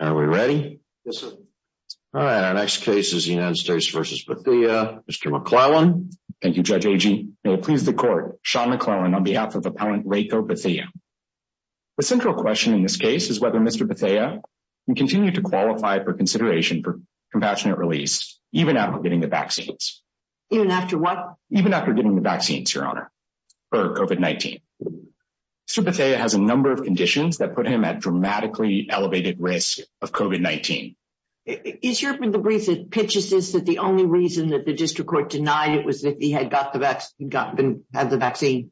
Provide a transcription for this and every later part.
The central question in this case is whether Mr. Bethea can continue to qualify for consideration for compassionate release, even after getting the vaccines, even after what, even after a number of conditions that put him at dramatically elevated risk of COVID-19. Is your brief that pitches this that the only reason that the district court denied it was that he had got the vaccine?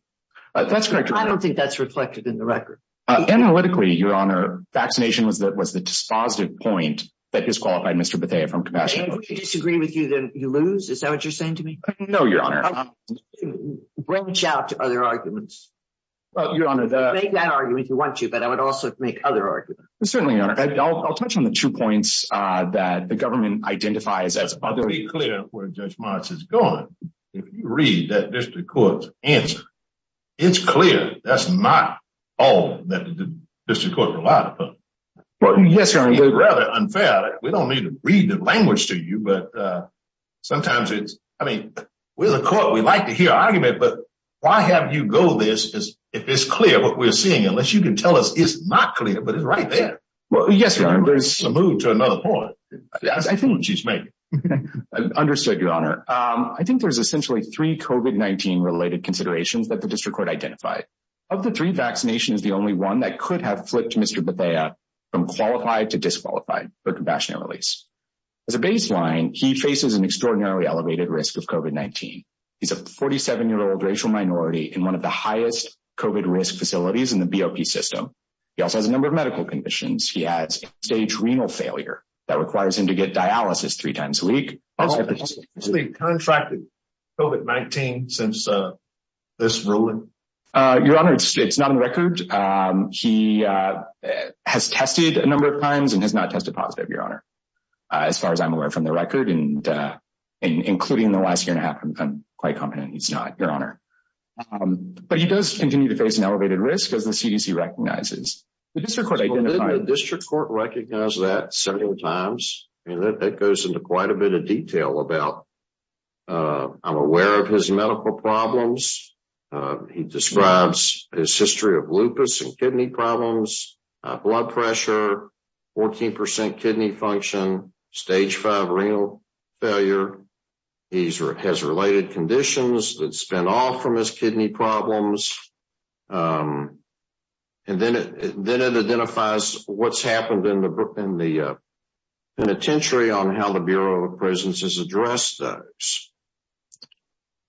That's correct, Your Honor. I don't think that's reflected in the record. Analytically, Your Honor, vaccination was the dispositive point that disqualified Mr. Bethea from compassion. And if we disagree with you, then you lose? Is that what you're saying to me? No, Your Honor. Branch out to other arguments. Your Honor, the… I would make that argument if you want to, but I would also make other arguments. Certainly, Your Honor. I'll touch on the two points that the government identifies as… To be clear where Judge Mars is going, if you read that district court's answer, it's clear that's not all that the district court relied upon. Yes, Your Honor. It's rather unfair. We don't mean to read the language to you, but sometimes it's, I mean, we're the court, we like to hear argument, but why have you go this, if it's clear what we're seeing, unless you can tell us it's not clear, but it's right there. Well, yes, Your Honor, there's… And you're supposed to move to another point. I think what she's making. Understood, Your Honor. I think there's essentially three COVID-19 related considerations that the district court identified. Of the three, vaccination is the only one that could have flipped Mr. Bethea from qualified to disqualified for compassionate release. As a baseline, he faces an extraordinarily elevated risk of COVID-19. He's a 47-year-old racial minority in one of the highest COVID risk facilities in the BOP system. He also has a number of medical conditions. He has stage renal failure that requires him to get dialysis three times a week. Has he contracted COVID-19 since this ruling? Your Honor, it's not on the record. He has tested a number of times and has not tested positive, Your Honor, as far as I'm quite confident he's not, Your Honor. But he does continue to face an elevated risk as the CDC recognizes. The district court identified… Well, the district court recognized that several times, and that goes into quite a bit of detail about I'm aware of his medical problems. He describes his history of lupus and kidney problems, blood pressure, 14% kidney function, stage five renal failure. He has related conditions that span off from his kidney problems. And then it identifies what's happened in the penitentiary on how the Bureau of Prisons has addressed those.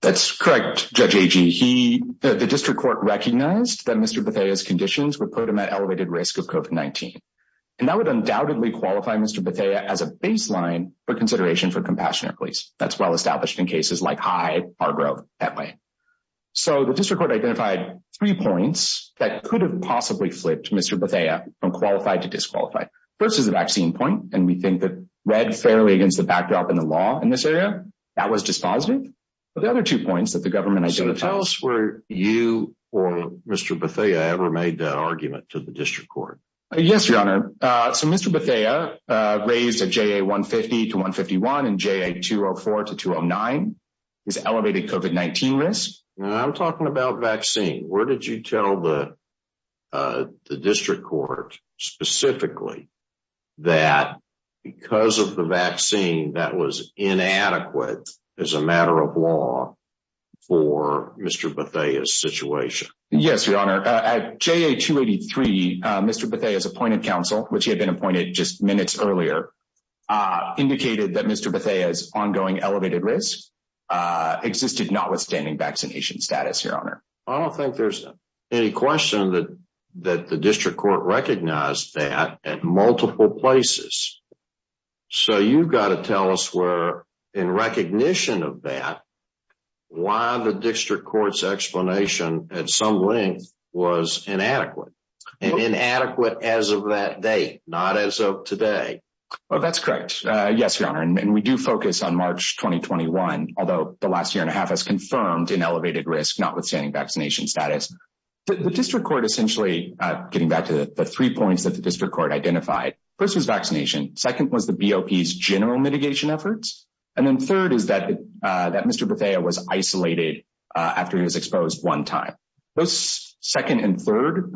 That's correct, Judge Agee. The district court recognized that Mr. Bethea's conditions would put him at elevated risk of COVID-19. And that would undoubtedly qualify Mr. Bethea as a baseline for consideration for Compassionate Police. That's well established in cases like Hyde, Hargrove, that way. So the district court identified three points that could have possibly flipped Mr. Bethea from qualified to disqualified. First is the vaccine point, and we think that read fairly against the backdrop in the law in this area, that was dispositive. But the other two points that the government identified… So tell us were you or Mr. Bethea ever made that argument to the district court? Yes, Your Honor. So Mr. Bethea raised a JA-150 to 151 and JA-204 to 209 is elevated COVID-19 risk. I'm talking about vaccine. Where did you tell the district court specifically that because of the vaccine, that was inadequate as a matter of law for Mr. Bethea's situation? Yes, Your Honor. At JA-283, Mr. Bethea's appointed counsel, which he had been appointed just minutes earlier, indicated that Mr. Bethea's ongoing elevated risk existed notwithstanding vaccination status, Your Honor. I don't think there's any question that the district court recognized that at multiple places. So you've got to tell us where, in recognition of that, why the district court's explanation at some length was inadequate. Inadequate as of that date, not as of today. Well, that's correct. Yes, Your Honor. And we do focus on March 2021, although the last year and a half has confirmed an elevated risk notwithstanding vaccination status. The district court essentially, getting back to the three points that the district court identified, first was vaccination, second was the BOP's general mitigation efforts, and then third is that Mr. Bethea was isolated after he was exposed one time. Those second and third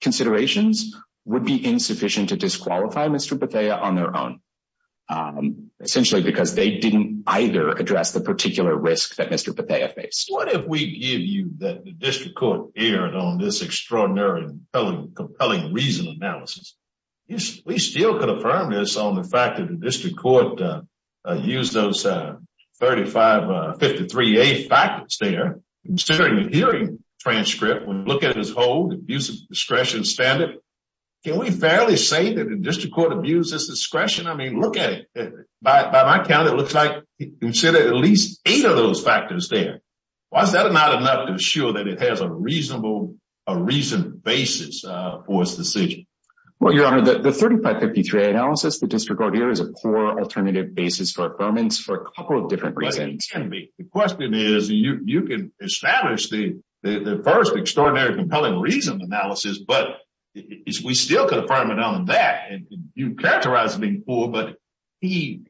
considerations would be insufficient to disqualify Mr. Bethea on their own, essentially because they didn't either address the particular risk that Mr. Bethea faced. What if we give you that the district court erred on this extraordinary, compelling reason analysis? We still could affirm this on the fact that the district court used those 3553A factors there. Considering the hearing transcript, when we look at his whole abuse of discretion standard, can we fairly say that the district court abused his discretion? I mean, look at it. By my count, it looks like he considered at least eight of those factors there. Why is that not enough to assure that it has a reasonable, a reasoned basis for his decision? Well, Your Honor, the 3553A analysis the district court here is a poor alternative basis for affirmance for a couple of different reasons. The question is, you can establish the first extraordinary, compelling reason analysis, but we still could affirm it on that. You characterize it as being poor, but he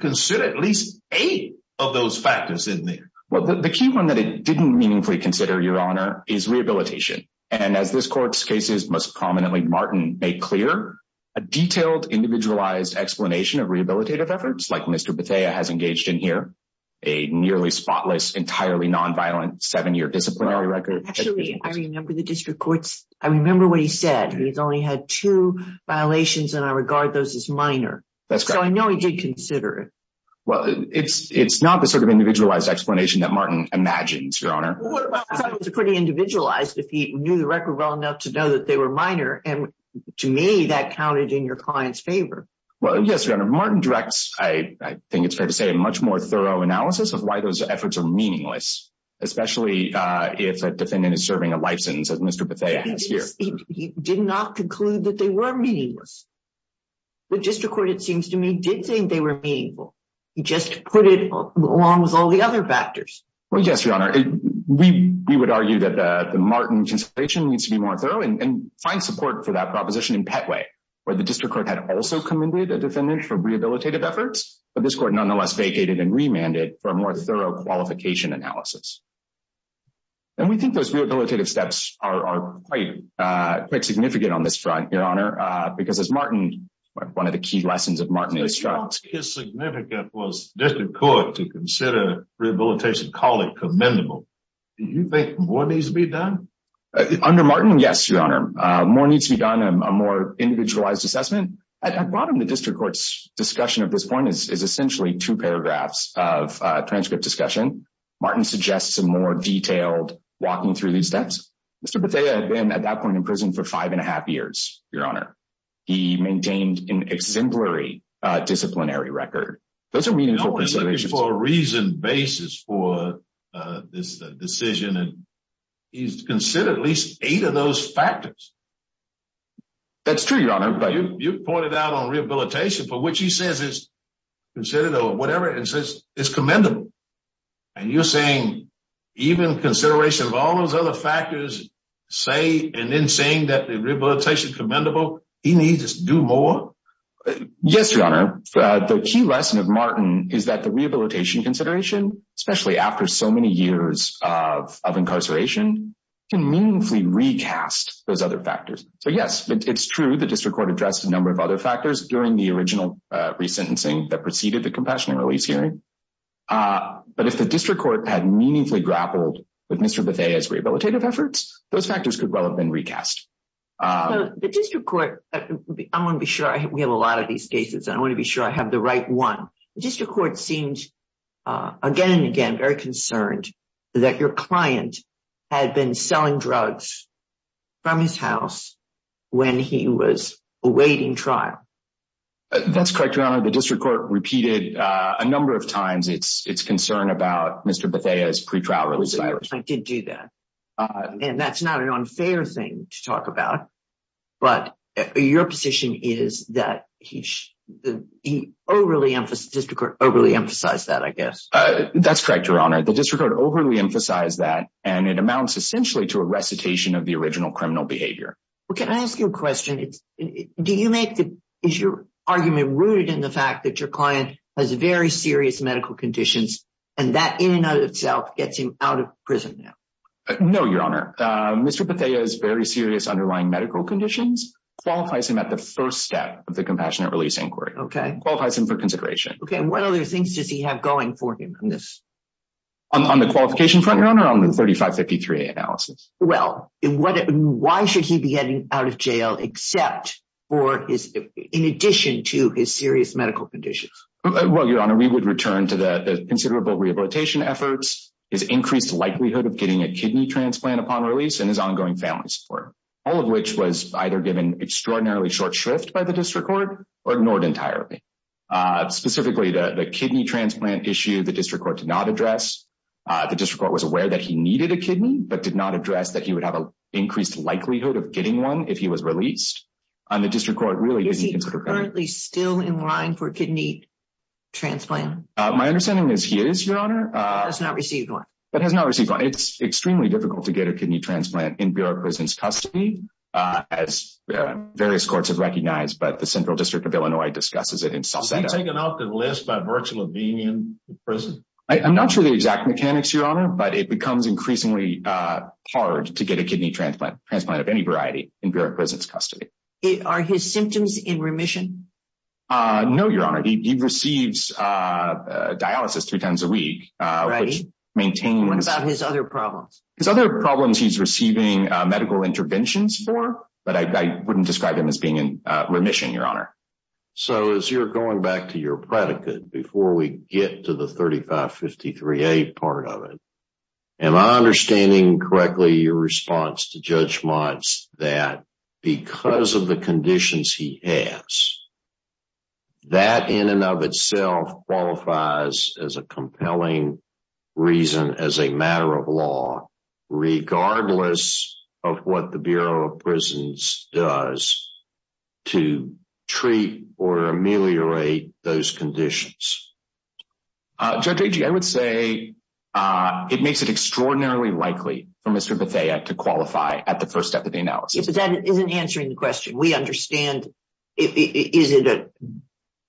considered at least eight of those factors in there. Well, the key one that it didn't meaningfully consider, Your Honor, is rehabilitation. And as this court's cases most prominently, Martin made clear, a detailed, individualized explanation of rehabilitative efforts like Mr. Bethea has engaged in here, a nearly spotless, entirely non-violent seven-year disciplinary record. Actually, I remember the district court's, I remember what he said. He's only had two violations and I regard those as minor. So I know he did consider it. Well, it's not the sort of individualized explanation that Martin imagines, Your Honor. Well, what about something that's pretty individualized, if he knew the record well enough to know that they were minor? And to me, that counted in your client's favor. Well, yes, Your Honor, Martin directs, I think it's fair to say, a much more thorough analysis of why those efforts are meaningless, especially if a defendant is serving a license as Mr. Bethea has here. He did not conclude that they were meaningless. The district court, it seems to me, did think they were meaningful. He just put it along with all the other factors. Well, yes, Your Honor. We would argue that the Martin consideration needs to be more thorough and find support for that proposition in Petway, where the district court had also commended a defendant for rehabilitative efforts, but this court nonetheless vacated and remanded for a more thorough qualification analysis. And we think those rehabilitative steps are quite significant on this front, Your Honor, because as Martin, one of the key lessons of Martin instructs. His significance was the district court to consider rehabilitation, call it commendable. Do you think more needs to be done? Under Martin, yes, Your Honor. More needs to be done, a more individualized assessment. At the bottom of the district court's discussion at this point is essentially two paragraphs of transcript discussion. Martin suggests a more detailed walking through these steps. Mr. Bethea had been at that point in prison for five and a half years, Your Honor. He maintained an exemplary disciplinary record. Those are meaningful considerations. No one is looking for a reasoned basis for this decision, and he's considered at least eight of those factors. That's true, Your Honor, but- You pointed out on rehabilitation, for which he says it's considered or whatever, it's commendable. And you're saying even consideration of all those other factors, say, and then saying that the rehabilitation is commendable, he needs to do more? Yes, Your Honor. The key lesson of Martin is that the rehabilitation consideration, especially after so many years of incarceration, can meaningfully recast those other factors. So yes, it's true the district court addressed a number of other factors during the original resentencing that preceded the compassionate release hearing. But if the district court had meaningfully grappled with Mr. Bethea's rehabilitative efforts, those factors could well have been recast. The district court... I want to be sure. We have a lot of these cases, and I want to be sure I have the right one. The district court seemed again and again very concerned that your client had been selling drugs from his house when he was awaiting trial. That's correct, Your Honor. The district court repeated a number of times its concern about Mr. Bethea's pretrial release of Irish. Mr. Bethea did do that, and that's not an unfair thing to talk about, but your position is that the district court overly emphasized that, I guess. That's correct, Your Honor. The district court overly emphasized that, and it amounts essentially to a recitation of the original criminal behavior. Well, can I ask you a question? Do you make the... Is your argument rooted in the fact that your client has very serious medical conditions and that in and of itself gets him out of prison now? No, Your Honor. Mr. Bethea's very serious underlying medical conditions qualifies him at the first step of the compassionate release inquiry. Okay. Qualifies him for consideration. Okay. What other things does he have going for him on this? On the qualification front, Your Honor, or on the 3553A analysis? Well, why should he be getting out of jail except for his... in addition to his serious medical conditions? Well, Your Honor, we would return to the considerable rehabilitation efforts, his increased likelihood of getting a kidney transplant upon release, and his ongoing family support, all of which was either given extraordinarily short shrift by the district court or ignored entirely. Specifically, the kidney transplant issue, the district court did not address. The district court was aware that he needed a kidney, but did not address that he would have an increased likelihood of getting one if he was released, and the district court really didn't... The district court is currently still in line for a kidney transplant. My understanding is he is, Your Honor. Has not received one. But has not received one. It's extremely difficult to get a kidney transplant in Bureau of Prison's custody, as various courts have recognized, but the Central District of Illinois discusses it in self-satisfaction. Is he taken off the list by virtue of being in prison? I'm not sure the exact mechanics, Your Honor, but it becomes increasingly hard to get a kidney transplant, transplant of any variety, in Bureau of Prison's custody. Are his symptoms in remission? No, Your Honor. He receives dialysis two times a week, which maintains... What about his other problems? His other problems he's receiving medical interventions for, but I wouldn't describe him as being in remission, Your Honor. So as you're going back to your predicate, before we get to the 3553A part of it, am I correct in saying that because of the conditions he has, that in and of itself qualifies as a compelling reason as a matter of law, regardless of what the Bureau of Prisons does to treat or ameliorate those conditions? Judge Agee, I would say it makes it extraordinarily likely for Mr. Bethea to qualify at the first step of the analysis. But that isn't answering the question. We understand. Is it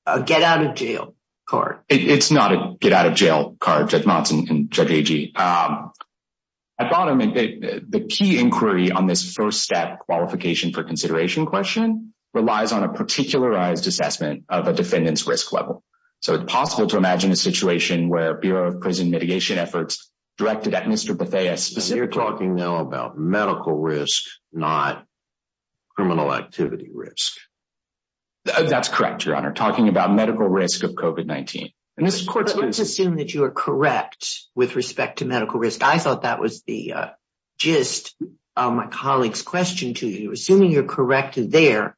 a get out of jail card? It's not a get out of jail card, Judge Monson and Judge Agee. At bottom, the key inquiry on this first step qualification for consideration question relies on a particularized assessment of a defendant's risk level. So it's possible to imagine a situation where Bureau of Prison mitigation efforts directed at Mr. Bethea... You're talking now about medical risk, not criminal activity risk. That's correct, Your Honor. Talking about medical risk of COVID-19. Let's assume that you are correct with respect to medical risk. I thought that was the gist of my colleague's question to you. Assuming you're correct there,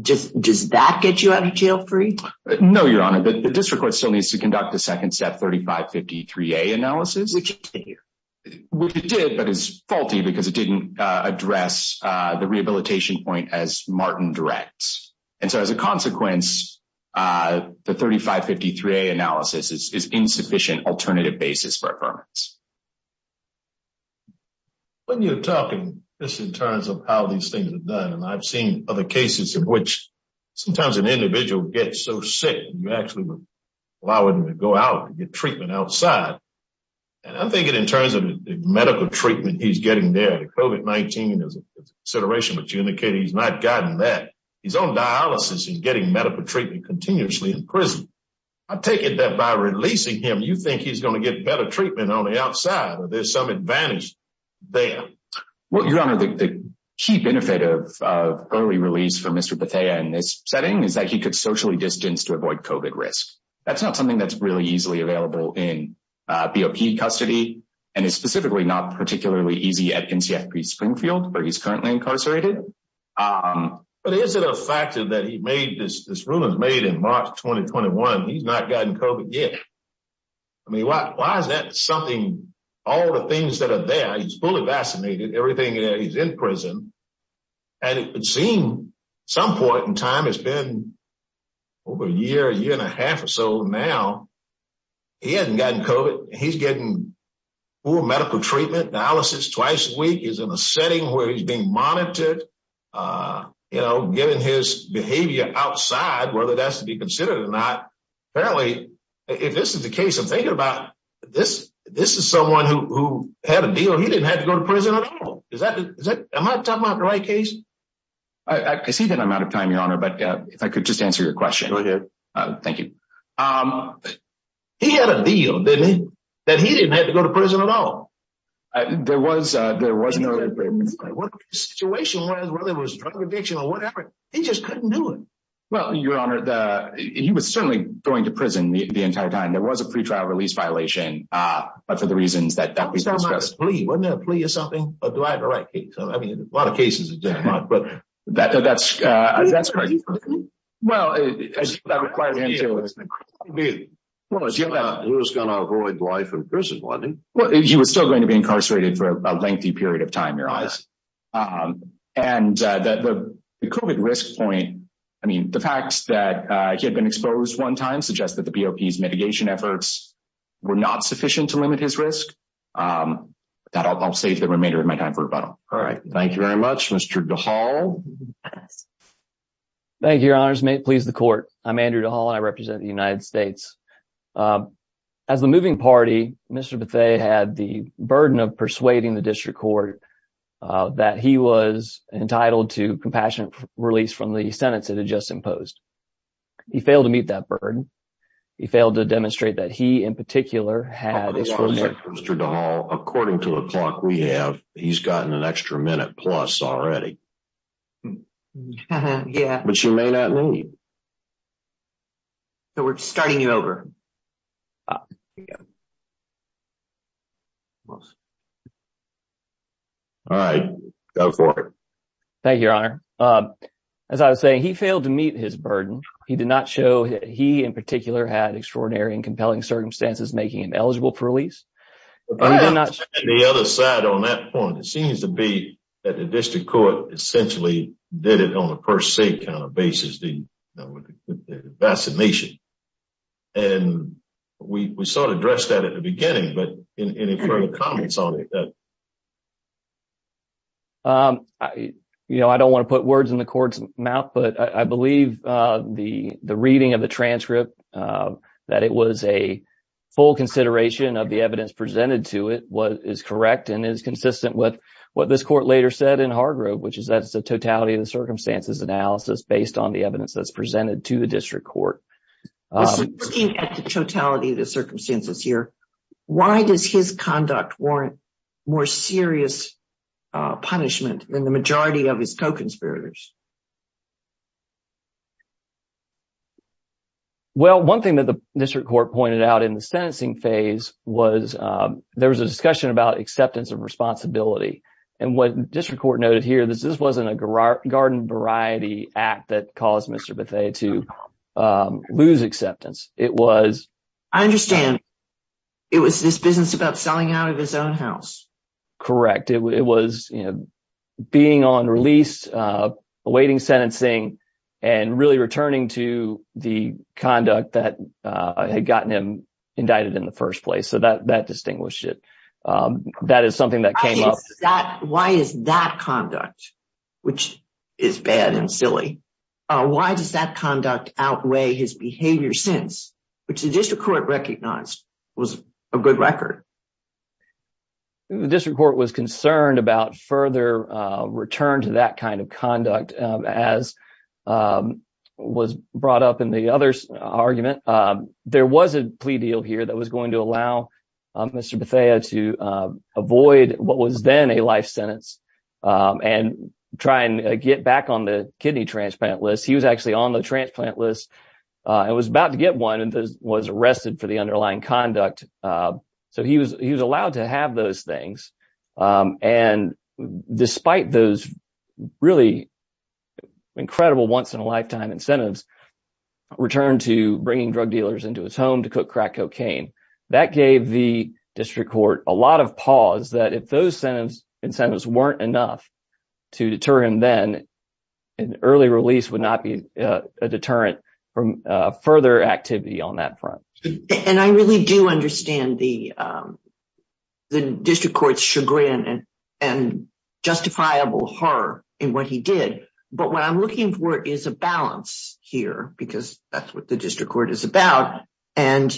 does that get you out of jail free? No, Your Honor. The district court still needs to conduct the second step 3553A analysis. Does it continue? Which it did, but it's faulty because it didn't address the rehabilitation point as Martin directs. And so as a consequence, the 3553A analysis is insufficient alternative basis for affirmance. When you're talking this in terms of how these things are done, and I've seen other cases in which sometimes an individual gets so sick, you actually would allow them to go out and get treatment outside. And I'm thinking in terms of the medical treatment he's getting there, the COVID-19, and there's a consideration, but you indicated he's not gotten that. He's on dialysis and getting medical treatment continuously in prison. I take it that by releasing him, you think he's going to get better treatment on the outside or there's some advantage there. Well, Your Honor, the key benefit of early release for Mr. Bethea in this setting is that he could socially distance to avoid COVID risk. That's not something that's really easily available in BOP custody, and it's specifically not particularly easy at NCFP Springfield, where he's currently incarcerated. But is it a factor that he made this, this ruling made in March 2021, he's not gotten COVID yet. I mean, why is that something, all the things that are there, he's fully vaccinated, everything there, he's in prison. And it would seem some point in time, it's been over a year, year and a half or so now, he hasn't gotten COVID. He's getting full medical treatment, dialysis twice a week, he's in a setting where he's being monitored, you know, getting his behavior outside, whether that's to be considered or not. Apparently, if this is the case, I'm thinking about this, this is someone who had a deal, he didn't have to go to prison at all. Is that, am I talking about the right case? I see that I'm out of time, Your Honor, but if I could just answer your question. Go ahead. Thank you. He had a deal, didn't he? That he didn't have to go to prison at all. There was no... What the situation was, whether it was drug addiction or whatever, he just couldn't do it. Well, Your Honor, he was certainly going to prison the entire time, there was a pre-trial release violation, but for the reasons that we've discussed. Wasn't that a plea or something? Or do I have the right case? I mean, a lot of cases are different. But that's... Well, that requires... He was going to avoid life in prison, wasn't he? Well, he was still going to be incarcerated for a lengthy period of time, Your Honor. And the COVID risk point, I mean, the fact that he had been exposed one time suggests that the BOP's mitigation efforts were not sufficient to limit his risk. That I'll save the remainder of my time for rebuttal. All right. Thank you very much. Mr. DeHaul. Thank you, Your Honors. May it please the court. I'm Andrew DeHaul and I represent the United States. As the moving party, Mr. Bethea had the burden of persuading the district court that he was entitled to compassionate release from the sentence that had just imposed. He failed to meet that burden. He failed to demonstrate that he, in particular, had... Mr. DeHaul, according to the clock we have, he's gotten an extra minute plus already. Yeah. But you may not need. So, we're starting you over. All right. Go for it. Thank you, Your Honor. As I was saying, he failed to meet his burden. He did not show he, in particular, had extraordinary and compelling circumstances making him eligible for release. He did not... On the other side, on that point, it seems to be that the district court essentially did it on a per se kind of basis, the vaccination. And we sort of addressed that at the beginning, but any further comments on it that... You know, I don't want to put words in the court's mouth, but I believe the reading of the transcript, that it was a full consideration of the evidence presented to it, is correct and is consistent with what this court later said in Hargrove, which is that it's a totality of the circumstances analysis based on the evidence that's presented to the district court. So, looking at the totality of the circumstances here, why does his conduct warrant more serious punishment than the majority of his co-conspirators? Well, one thing that the district court pointed out in the sentencing phase was there was a discussion about acceptance of responsibility. And what the district court noted here, this wasn't a garden variety act that caused Mr. Lue's acceptance. It was... I understand. It was this business about selling out of his own house. Correct. It was being on release, awaiting sentencing, and really returning to the conduct that had gotten him indicted in the first place. So that distinguished it. Why is that conduct, which is bad and silly. Why does that conduct outweigh his behavior sense, which the district court recognized was a good record? The district court was concerned about further return to that kind of conduct as was brought up in the other argument. There was a plea deal here that was going to allow Mr. Bethea to avoid what was then a life sentence and try and get back on the kidney transplant list. He was actually on the transplant list and was about to get one and was arrested for the underlying conduct. So he was allowed to have those things. And despite those really incredible once in a lifetime incentives, returned to bringing drug dealers into his home to cook crack cocaine. That gave the district court a lot of pause that if those incentives weren't enough to deter him then, an early release would not be a deterrent from further activity on that front. And I really do understand the district court's chagrin and justifiable horror in what he did. But what I'm looking for is a balance here because that's what the district court is about. And,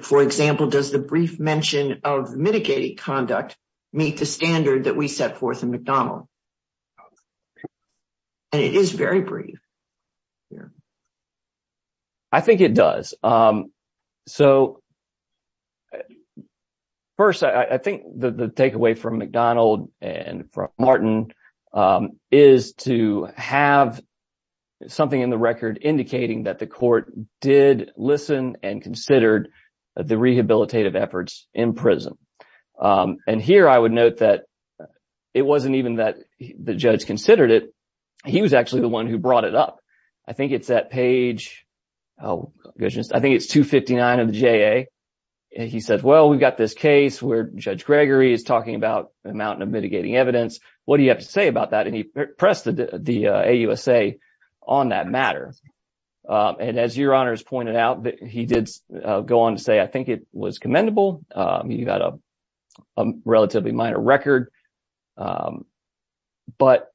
for example, does the brief mention of mitigating conduct meet the standard that we set forth in McDonnell? And it is very brief. I think it does. So first, I think the takeaway from McDonnell and Martin is to have something in the record indicating that the court did listen and considered the rehabilitative efforts in prison. And here I would note that it wasn't even that the judge considered it. He was actually the one who brought it up. I think it's that page, I think it's 259 of the JA. He said, well, we've got this case where Judge Gregory is talking about a mountain of mitigating evidence. What do you have to say about that? And he pressed the AUSA on that matter. And as Your Honor has pointed out, he did go on to say, I think it was commendable. You got a relatively minor record. But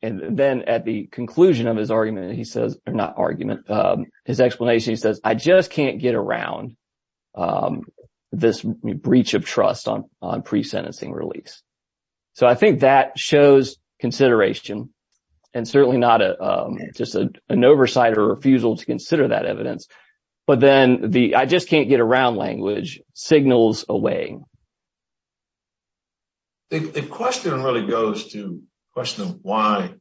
and then at the conclusion of his argument, he says, not argument, his explanation, he says, I just can't get around this breach of trust on on pre-sentencing release. So I think that shows consideration and certainly not just an oversight or refusal to consider that evidence. But then the I just can't get around language signals away. The question really goes to the question of why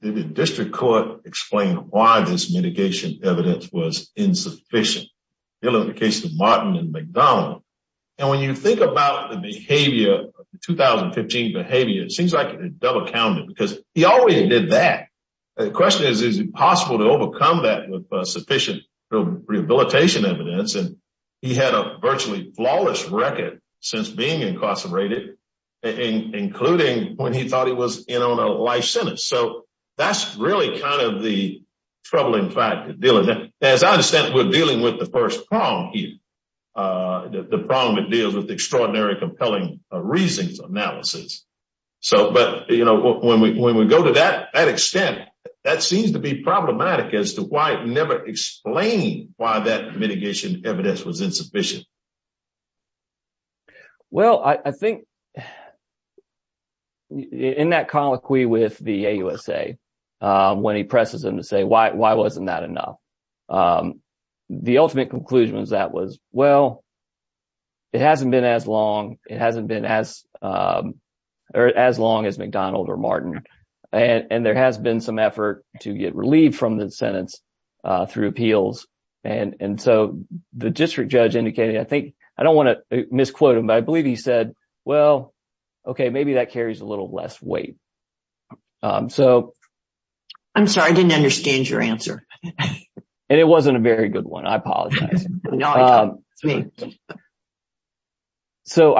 did the district court explain why this mitigation evidence was insufficient in the case of Martin and McDonnell? And when you think about the behavior of the 2015 behavior, it seems like it's double counted because he already did that. The question is, is it possible to overcome that with sufficient rehabilitation evidence? And he had a virtually flawless record since being incarcerated, including when he thought he was in on a life sentence. So that's really kind of the troubling fact of dealing that, as I understand, we're dealing with the first prong here, the prong that deals with extraordinary, compelling reasons analysis. So but, you know, when we go to that extent, that seems to be problematic as to why it never explained why that mitigation evidence was insufficient. Well, I think in that colloquy with the AUSA, when he presses him to say, why wasn't that enough? The ultimate conclusion is that was, well, it hasn't been as long. It hasn't been as or as long as McDonald or Martin. And there has been some effort to get relieved from the sentence through appeals. And so the district judge indicated, I think I don't want to misquote him, but I believe he said, well, OK, maybe that carries a little less weight. So I'm sorry, I didn't understand your answer, and it wasn't a very good one. I apologize. So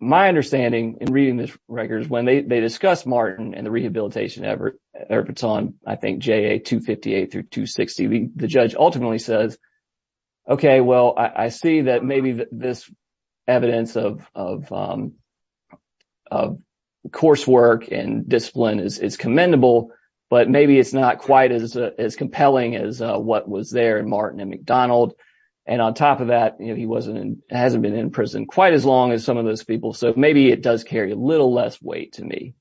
my understanding in reading this record is when they discussed Martin and the rehabilitation efforts on, I think, JA 258 through 260, the judge ultimately says, OK, well, I see that maybe this evidence of coursework and discipline is commendable, but maybe it's not quite as compelling as what was there in Martin and McDonald. And on top of that, he hasn't been in prison quite as long as some of those people. So maybe it does carry a little less weight to me.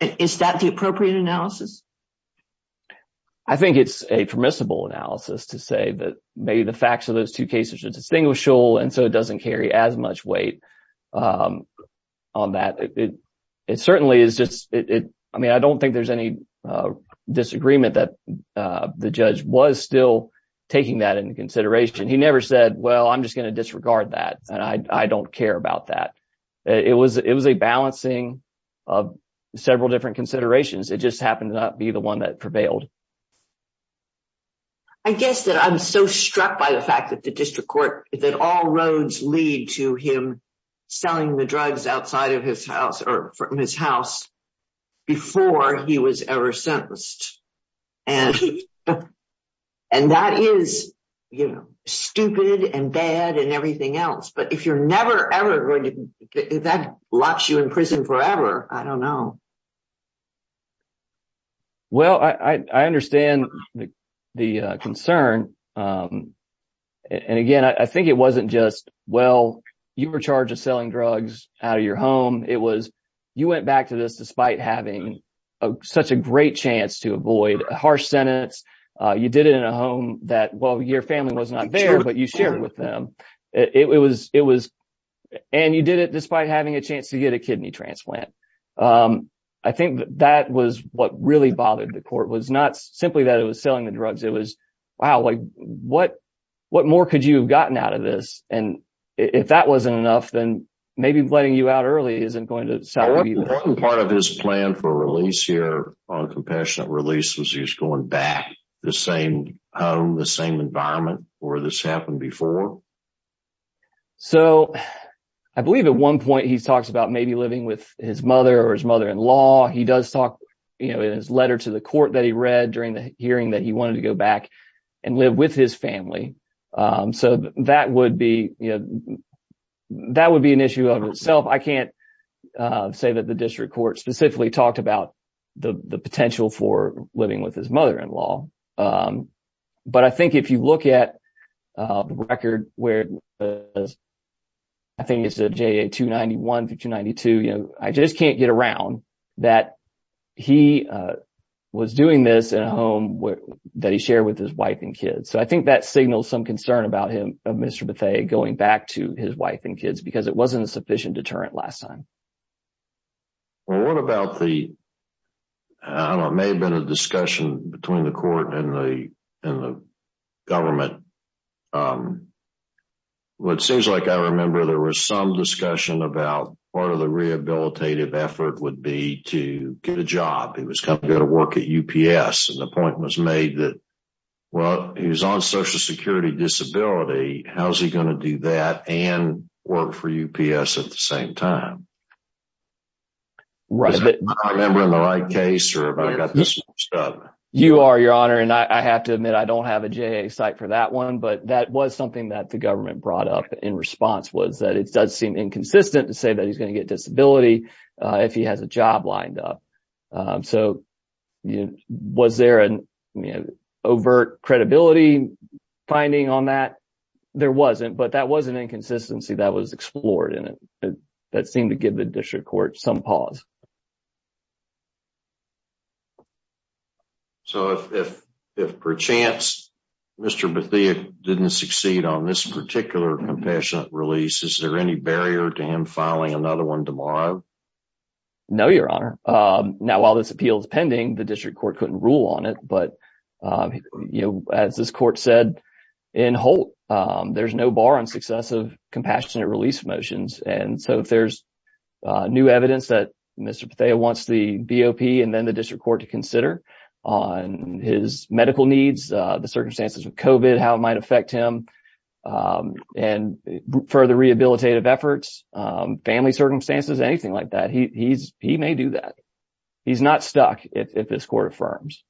Is that the appropriate analysis? I think it's a permissible analysis to say that maybe the facts of those two cases are distinguishable. And so it doesn't carry as much weight on that. It certainly is just it. I mean, I don't think there's any disagreement that the judge was still taking that into consideration. He never said, well, I'm just going to disregard that. And I don't care about that. It was a balancing of several different considerations. It just happened to not be the one that prevailed. I guess that I'm so struck by the fact that the district court, that all roads lead to him selling the drugs outside of his house or from his house before he was ever sentenced. And and that is stupid and bad and everything else. But if you're never, ever going to that locks you in prison forever, I don't know. Well, I understand the concern, and again, I think it wasn't just, well, you were charged of selling drugs out of your home. It was you went back to this despite having such a great chance to avoid a harsh sentence. You did it in a home that, well, your family was not there, but you shared with them. It was it was and you did it despite having a chance to get a kidney transplant. I think that was what really bothered the court was not simply that it was selling the drugs. It was, wow, what what more could you have gotten out of this? And if that wasn't enough, then maybe letting you out early isn't going to be part of his plan for release here on compassionate release was he's going back the same the same environment where this happened before. So I believe at one point he talks about maybe living with his mother or his mother in law. He does talk in his letter to the court that he read during the hearing that he wanted to go back and live with his family. So that would be that would be an issue of itself. I can't say that the district court specifically talked about the potential for living with his mother in law. But I think if you look at the record where I think it's a 291 to 292, you know, I just can't get around that he was doing this at home that he shared with his wife and kids. So I think that signals some concern about him, Mr. Bethea going back to his wife and kids because it wasn't a sufficient deterrent last time. Well, what about the I don't know, it may have been a discussion between the court and the and the government. Well, it seems like I remember there was some discussion about part of the rehabilitative effort would be to get a job. He was coming to work at UPS and the point was made that, well, he was on social security disability. How's he going to do that and work for UPS at the same time? Right, but I remember in the right case or if I've got this. You are your honor and I have to admit I don't have a J site for that one. But that was something that the government brought up in response was that it does seem inconsistent to say that he's going to get disability if he has a job lined up. So was there an overt credibility finding on that? There wasn't, but that was an inconsistency that was explored in it that seemed to give the district court some pause. So if if if perchance Mr. Bethia didn't succeed on this particular compassionate release, is there any barrier to him filing another one tomorrow? No, your honor. Now, while this appeal is pending, the district court couldn't rule on it. But, you know, as this court said in Holt, there's no bar on successive compassionate release motions. And so if there's new evidence that Mr. Bethia wants the BOP and then the district court to consider on his medical needs, the circumstances of COVID, how it might affect him and further rehabilitative efforts, family circumstances, anything like that, he's he may do that. He's not stuck if this court affirms.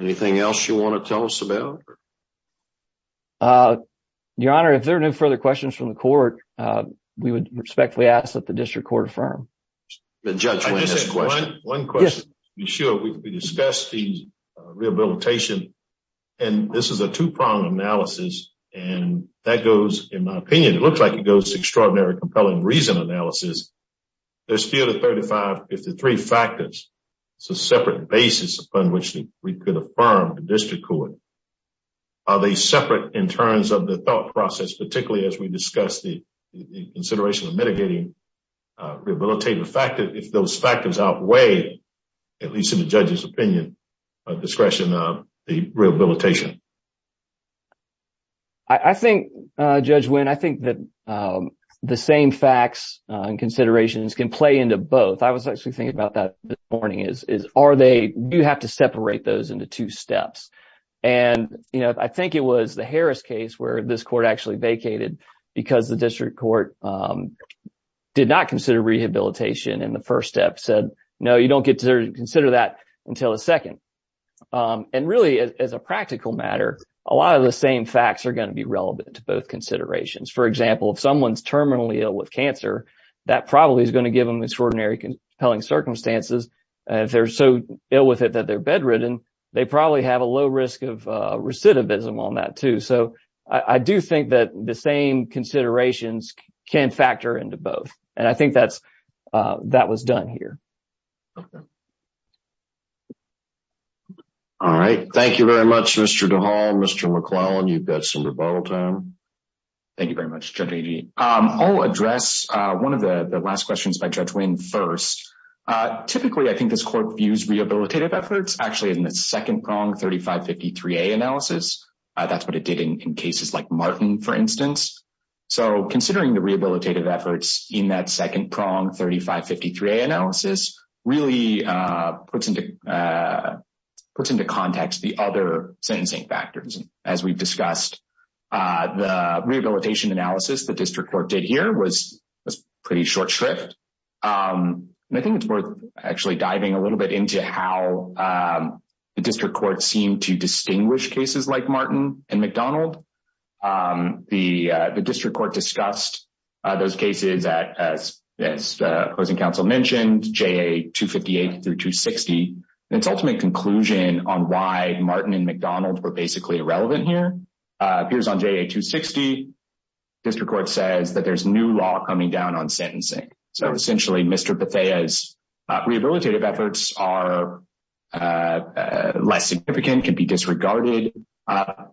Anything else you want to tell us about? Your honor, if there are no further questions from the court, we would respectfully ask that the district court affirm. The judge, one question, sure, we discussed the rehabilitation and this is a two prong analysis. And that goes, in my opinion, it looks like it goes extraordinary compelling. Reason analysis, there's few to 35, if the three factors, it's a separate basis upon which we could affirm the district court. Are they separate in terms of the thought process, particularly as we discuss the consideration of mitigating rehabilitative factors, if those factors outweigh, at least in the judge's opinion, discretion of the rehabilitation? I think, Judge Wynn, I think that the same facts and considerations can play into both. I was actually thinking about that this morning, is are they, do you have to separate those into two steps? And, you know, I think it was the Harris case where this court actually vacated because the district court did not consider rehabilitation in the first step, said, no, you don't get to consider that until the second. And really, as a practical matter, a lot of the same facts are going to be relevant to both considerations. For example, if someone's terminally ill with cancer, that probably is going to give them extraordinary compelling circumstances. And if they're so ill with it that they're bedridden, they probably have a low risk of recidivism on that, too. So I do think that the same considerations can factor into both. And I think that's, that was done here. All right. Thank you very much, Mr. DeHall. Mr. McClellan, you've got some rebuttal time. Thank you very much, Judge Agee. I'll address one of the last questions by Judge Wynn first. Typically, I think this court views rehabilitative efforts actually in the second prong 3553A analysis. That's what it did in cases like Martin, for instance. So considering the rehabilitative efforts in that second prong 3553A analysis really puts into context the other sentencing factors. As we've discussed, the rehabilitation analysis the district court did here was pretty short shrift. And I think it's worth actually diving a little bit into how the district court seemed to distinguish cases like Martin and McDonald. The district court discussed those cases as the opposing counsel mentioned, JA 258 through 260. And its ultimate conclusion on why Martin and McDonald were basically irrelevant here appears on JA 260. District court says that there's new law coming down on sentencing. So essentially, Mr. Bethea's rehabilitative efforts are less significant, can be disregarded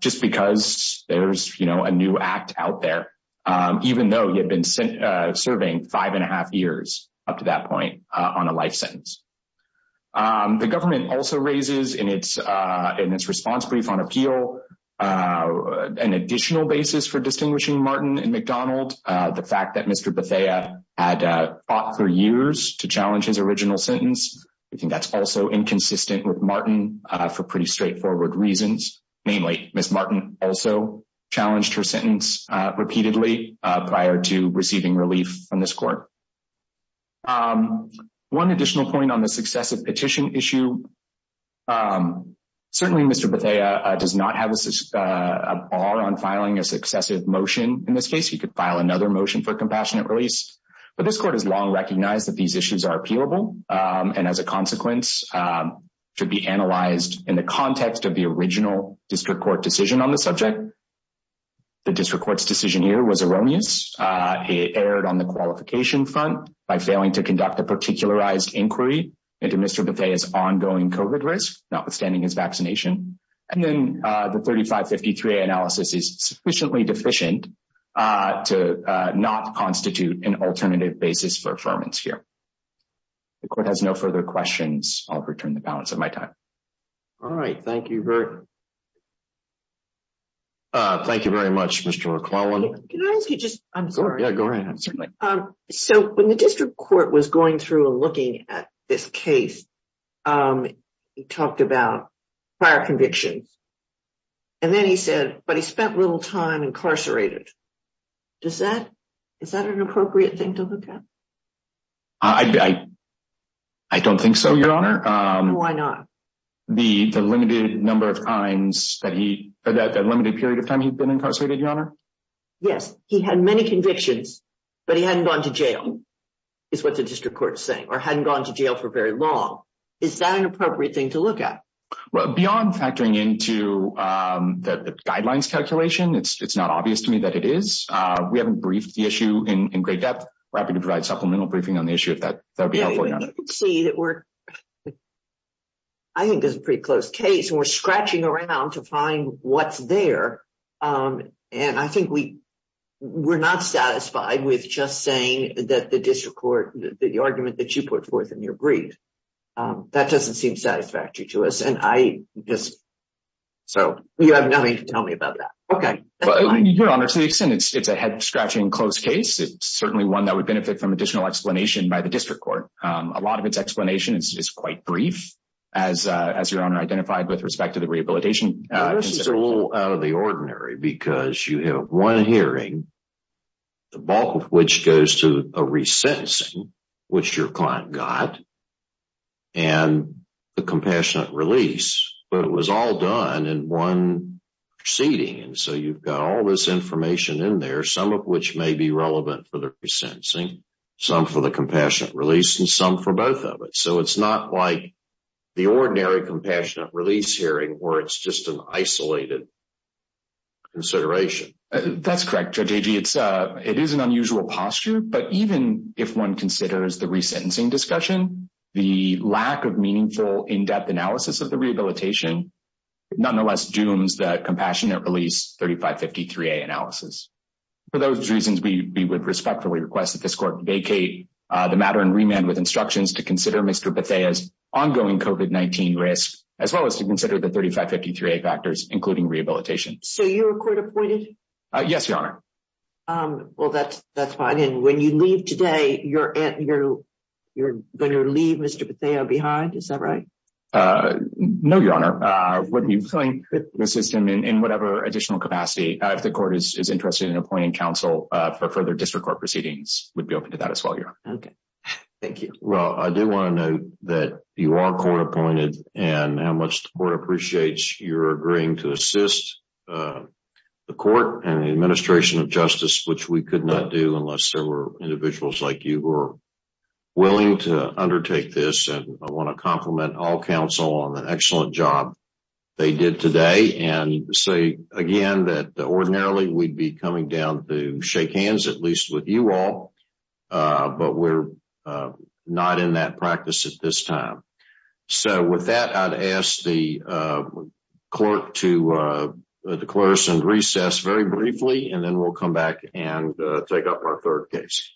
just because there's a new act out there, even though he had been serving five and a half years up to that point on a life sentence. The government also raises in its response brief on appeal an additional basis for distinguishing Martin and McDonald. The fact that Mr. Bethea had fought for years to challenge his original sentence, I think that's also inconsistent with Martin for pretty straightforward reasons. Namely, Ms. Martin also challenged her sentence repeatedly prior to receiving relief from this court. One additional point on the successive petition issue. Certainly, Mr. Bethea does not have a bar on filing a successive motion. In this case, he could file another motion for compassionate release. But this court has long recognized that these issues are appealable, and as a consequence, should be analyzed in the context of the original district court decision on the subject. The district court's decision here was erroneous. It erred on the qualification front by failing to conduct a particularized inquiry into Mr. Bethea's ongoing COVID risk, notwithstanding his vaccination. And then the 3553A analysis is sufficiently deficient to not constitute an alternative basis for affirmance here. The court has no further questions. I'll return the balance of my time. All right. Thank you, Bert. Thank you very much, Mr. McClellan. Can I ask you just... I'm sorry. Yeah, go ahead. So when the district court was going through and looking at this case, um, he talked about prior convictions. And then he said, but he spent little time incarcerated. Does that... Is that an appropriate thing to look at? I don't think so, Your Honor. Why not? The limited number of times that he... That limited period of time he'd been incarcerated, Your Honor? Yes. He had many convictions, but he hadn't gone to jail, is what the district court is saying, hadn't gone to jail for very long. Is that an appropriate thing to look at? Beyond factoring into the guidelines calculation, it's not obvious to me that it is. We haven't briefed the issue in great depth. We're happy to provide supplemental briefing on the issue if that would be helpful, Your Honor. Yeah, you can see that we're... I think it's a pretty close case, and we're scratching around to find what's there. And I think we... I'm satisfied with just saying that the district court, the argument that you put forth in your brief, that doesn't seem satisfactory to us. And I just... So... You have nothing to tell me about that. Okay, fine. Your Honor, to the extent it's a head-scratching close case, it's certainly one that would benefit from additional explanation by the district court. A lot of its explanation is quite brief, as Your Honor identified with respect to the rehabilitation... This is a little out of the ordinary, because you have one hearing, the bulk of which goes to a resentencing, which your client got, and a compassionate release. But it was all done in one proceeding, and so you've got all this information in there, some of which may be relevant for the resentencing, some for the compassionate release, and some for both of it. It's not like the ordinary compassionate release hearing, where it's just an isolated consideration. That's correct, Judge Agee. It is an unusual posture, but even if one considers the resentencing discussion, the lack of meaningful, in-depth analysis of the rehabilitation, nonetheless dooms the compassionate release 3553A analysis. For those reasons, we would respectfully request that this court vacate the matter and remand with instructions to consider Mr. Bethea's ongoing COVID-19 risk, as well as to consider the 3553A factors, including rehabilitation. So you were court-appointed? Yes, Your Honor. Well, that's fine. And when you leave today, you're going to leave Mr. Bethea behind? Is that right? No, Your Honor. When you find the system in whatever additional capacity, if the court is interested in appointing counsel for further district court proceedings, we'd be open to that as well, Your Honor. Thank you. Well, I do want to note that you are court-appointed, and how much the court appreciates your agreeing to assist the court and the administration of justice, which we could not do unless there were individuals like you who are willing to undertake this. And I want to compliment all counsel on the excellent job they did today, and say again that ordinarily we'd be coming down to shake hands, at least with you all, but we're not in that practice at this time. So with that, I'd ask the court to declare some recess very briefly, and then we'll come back and take up our third case.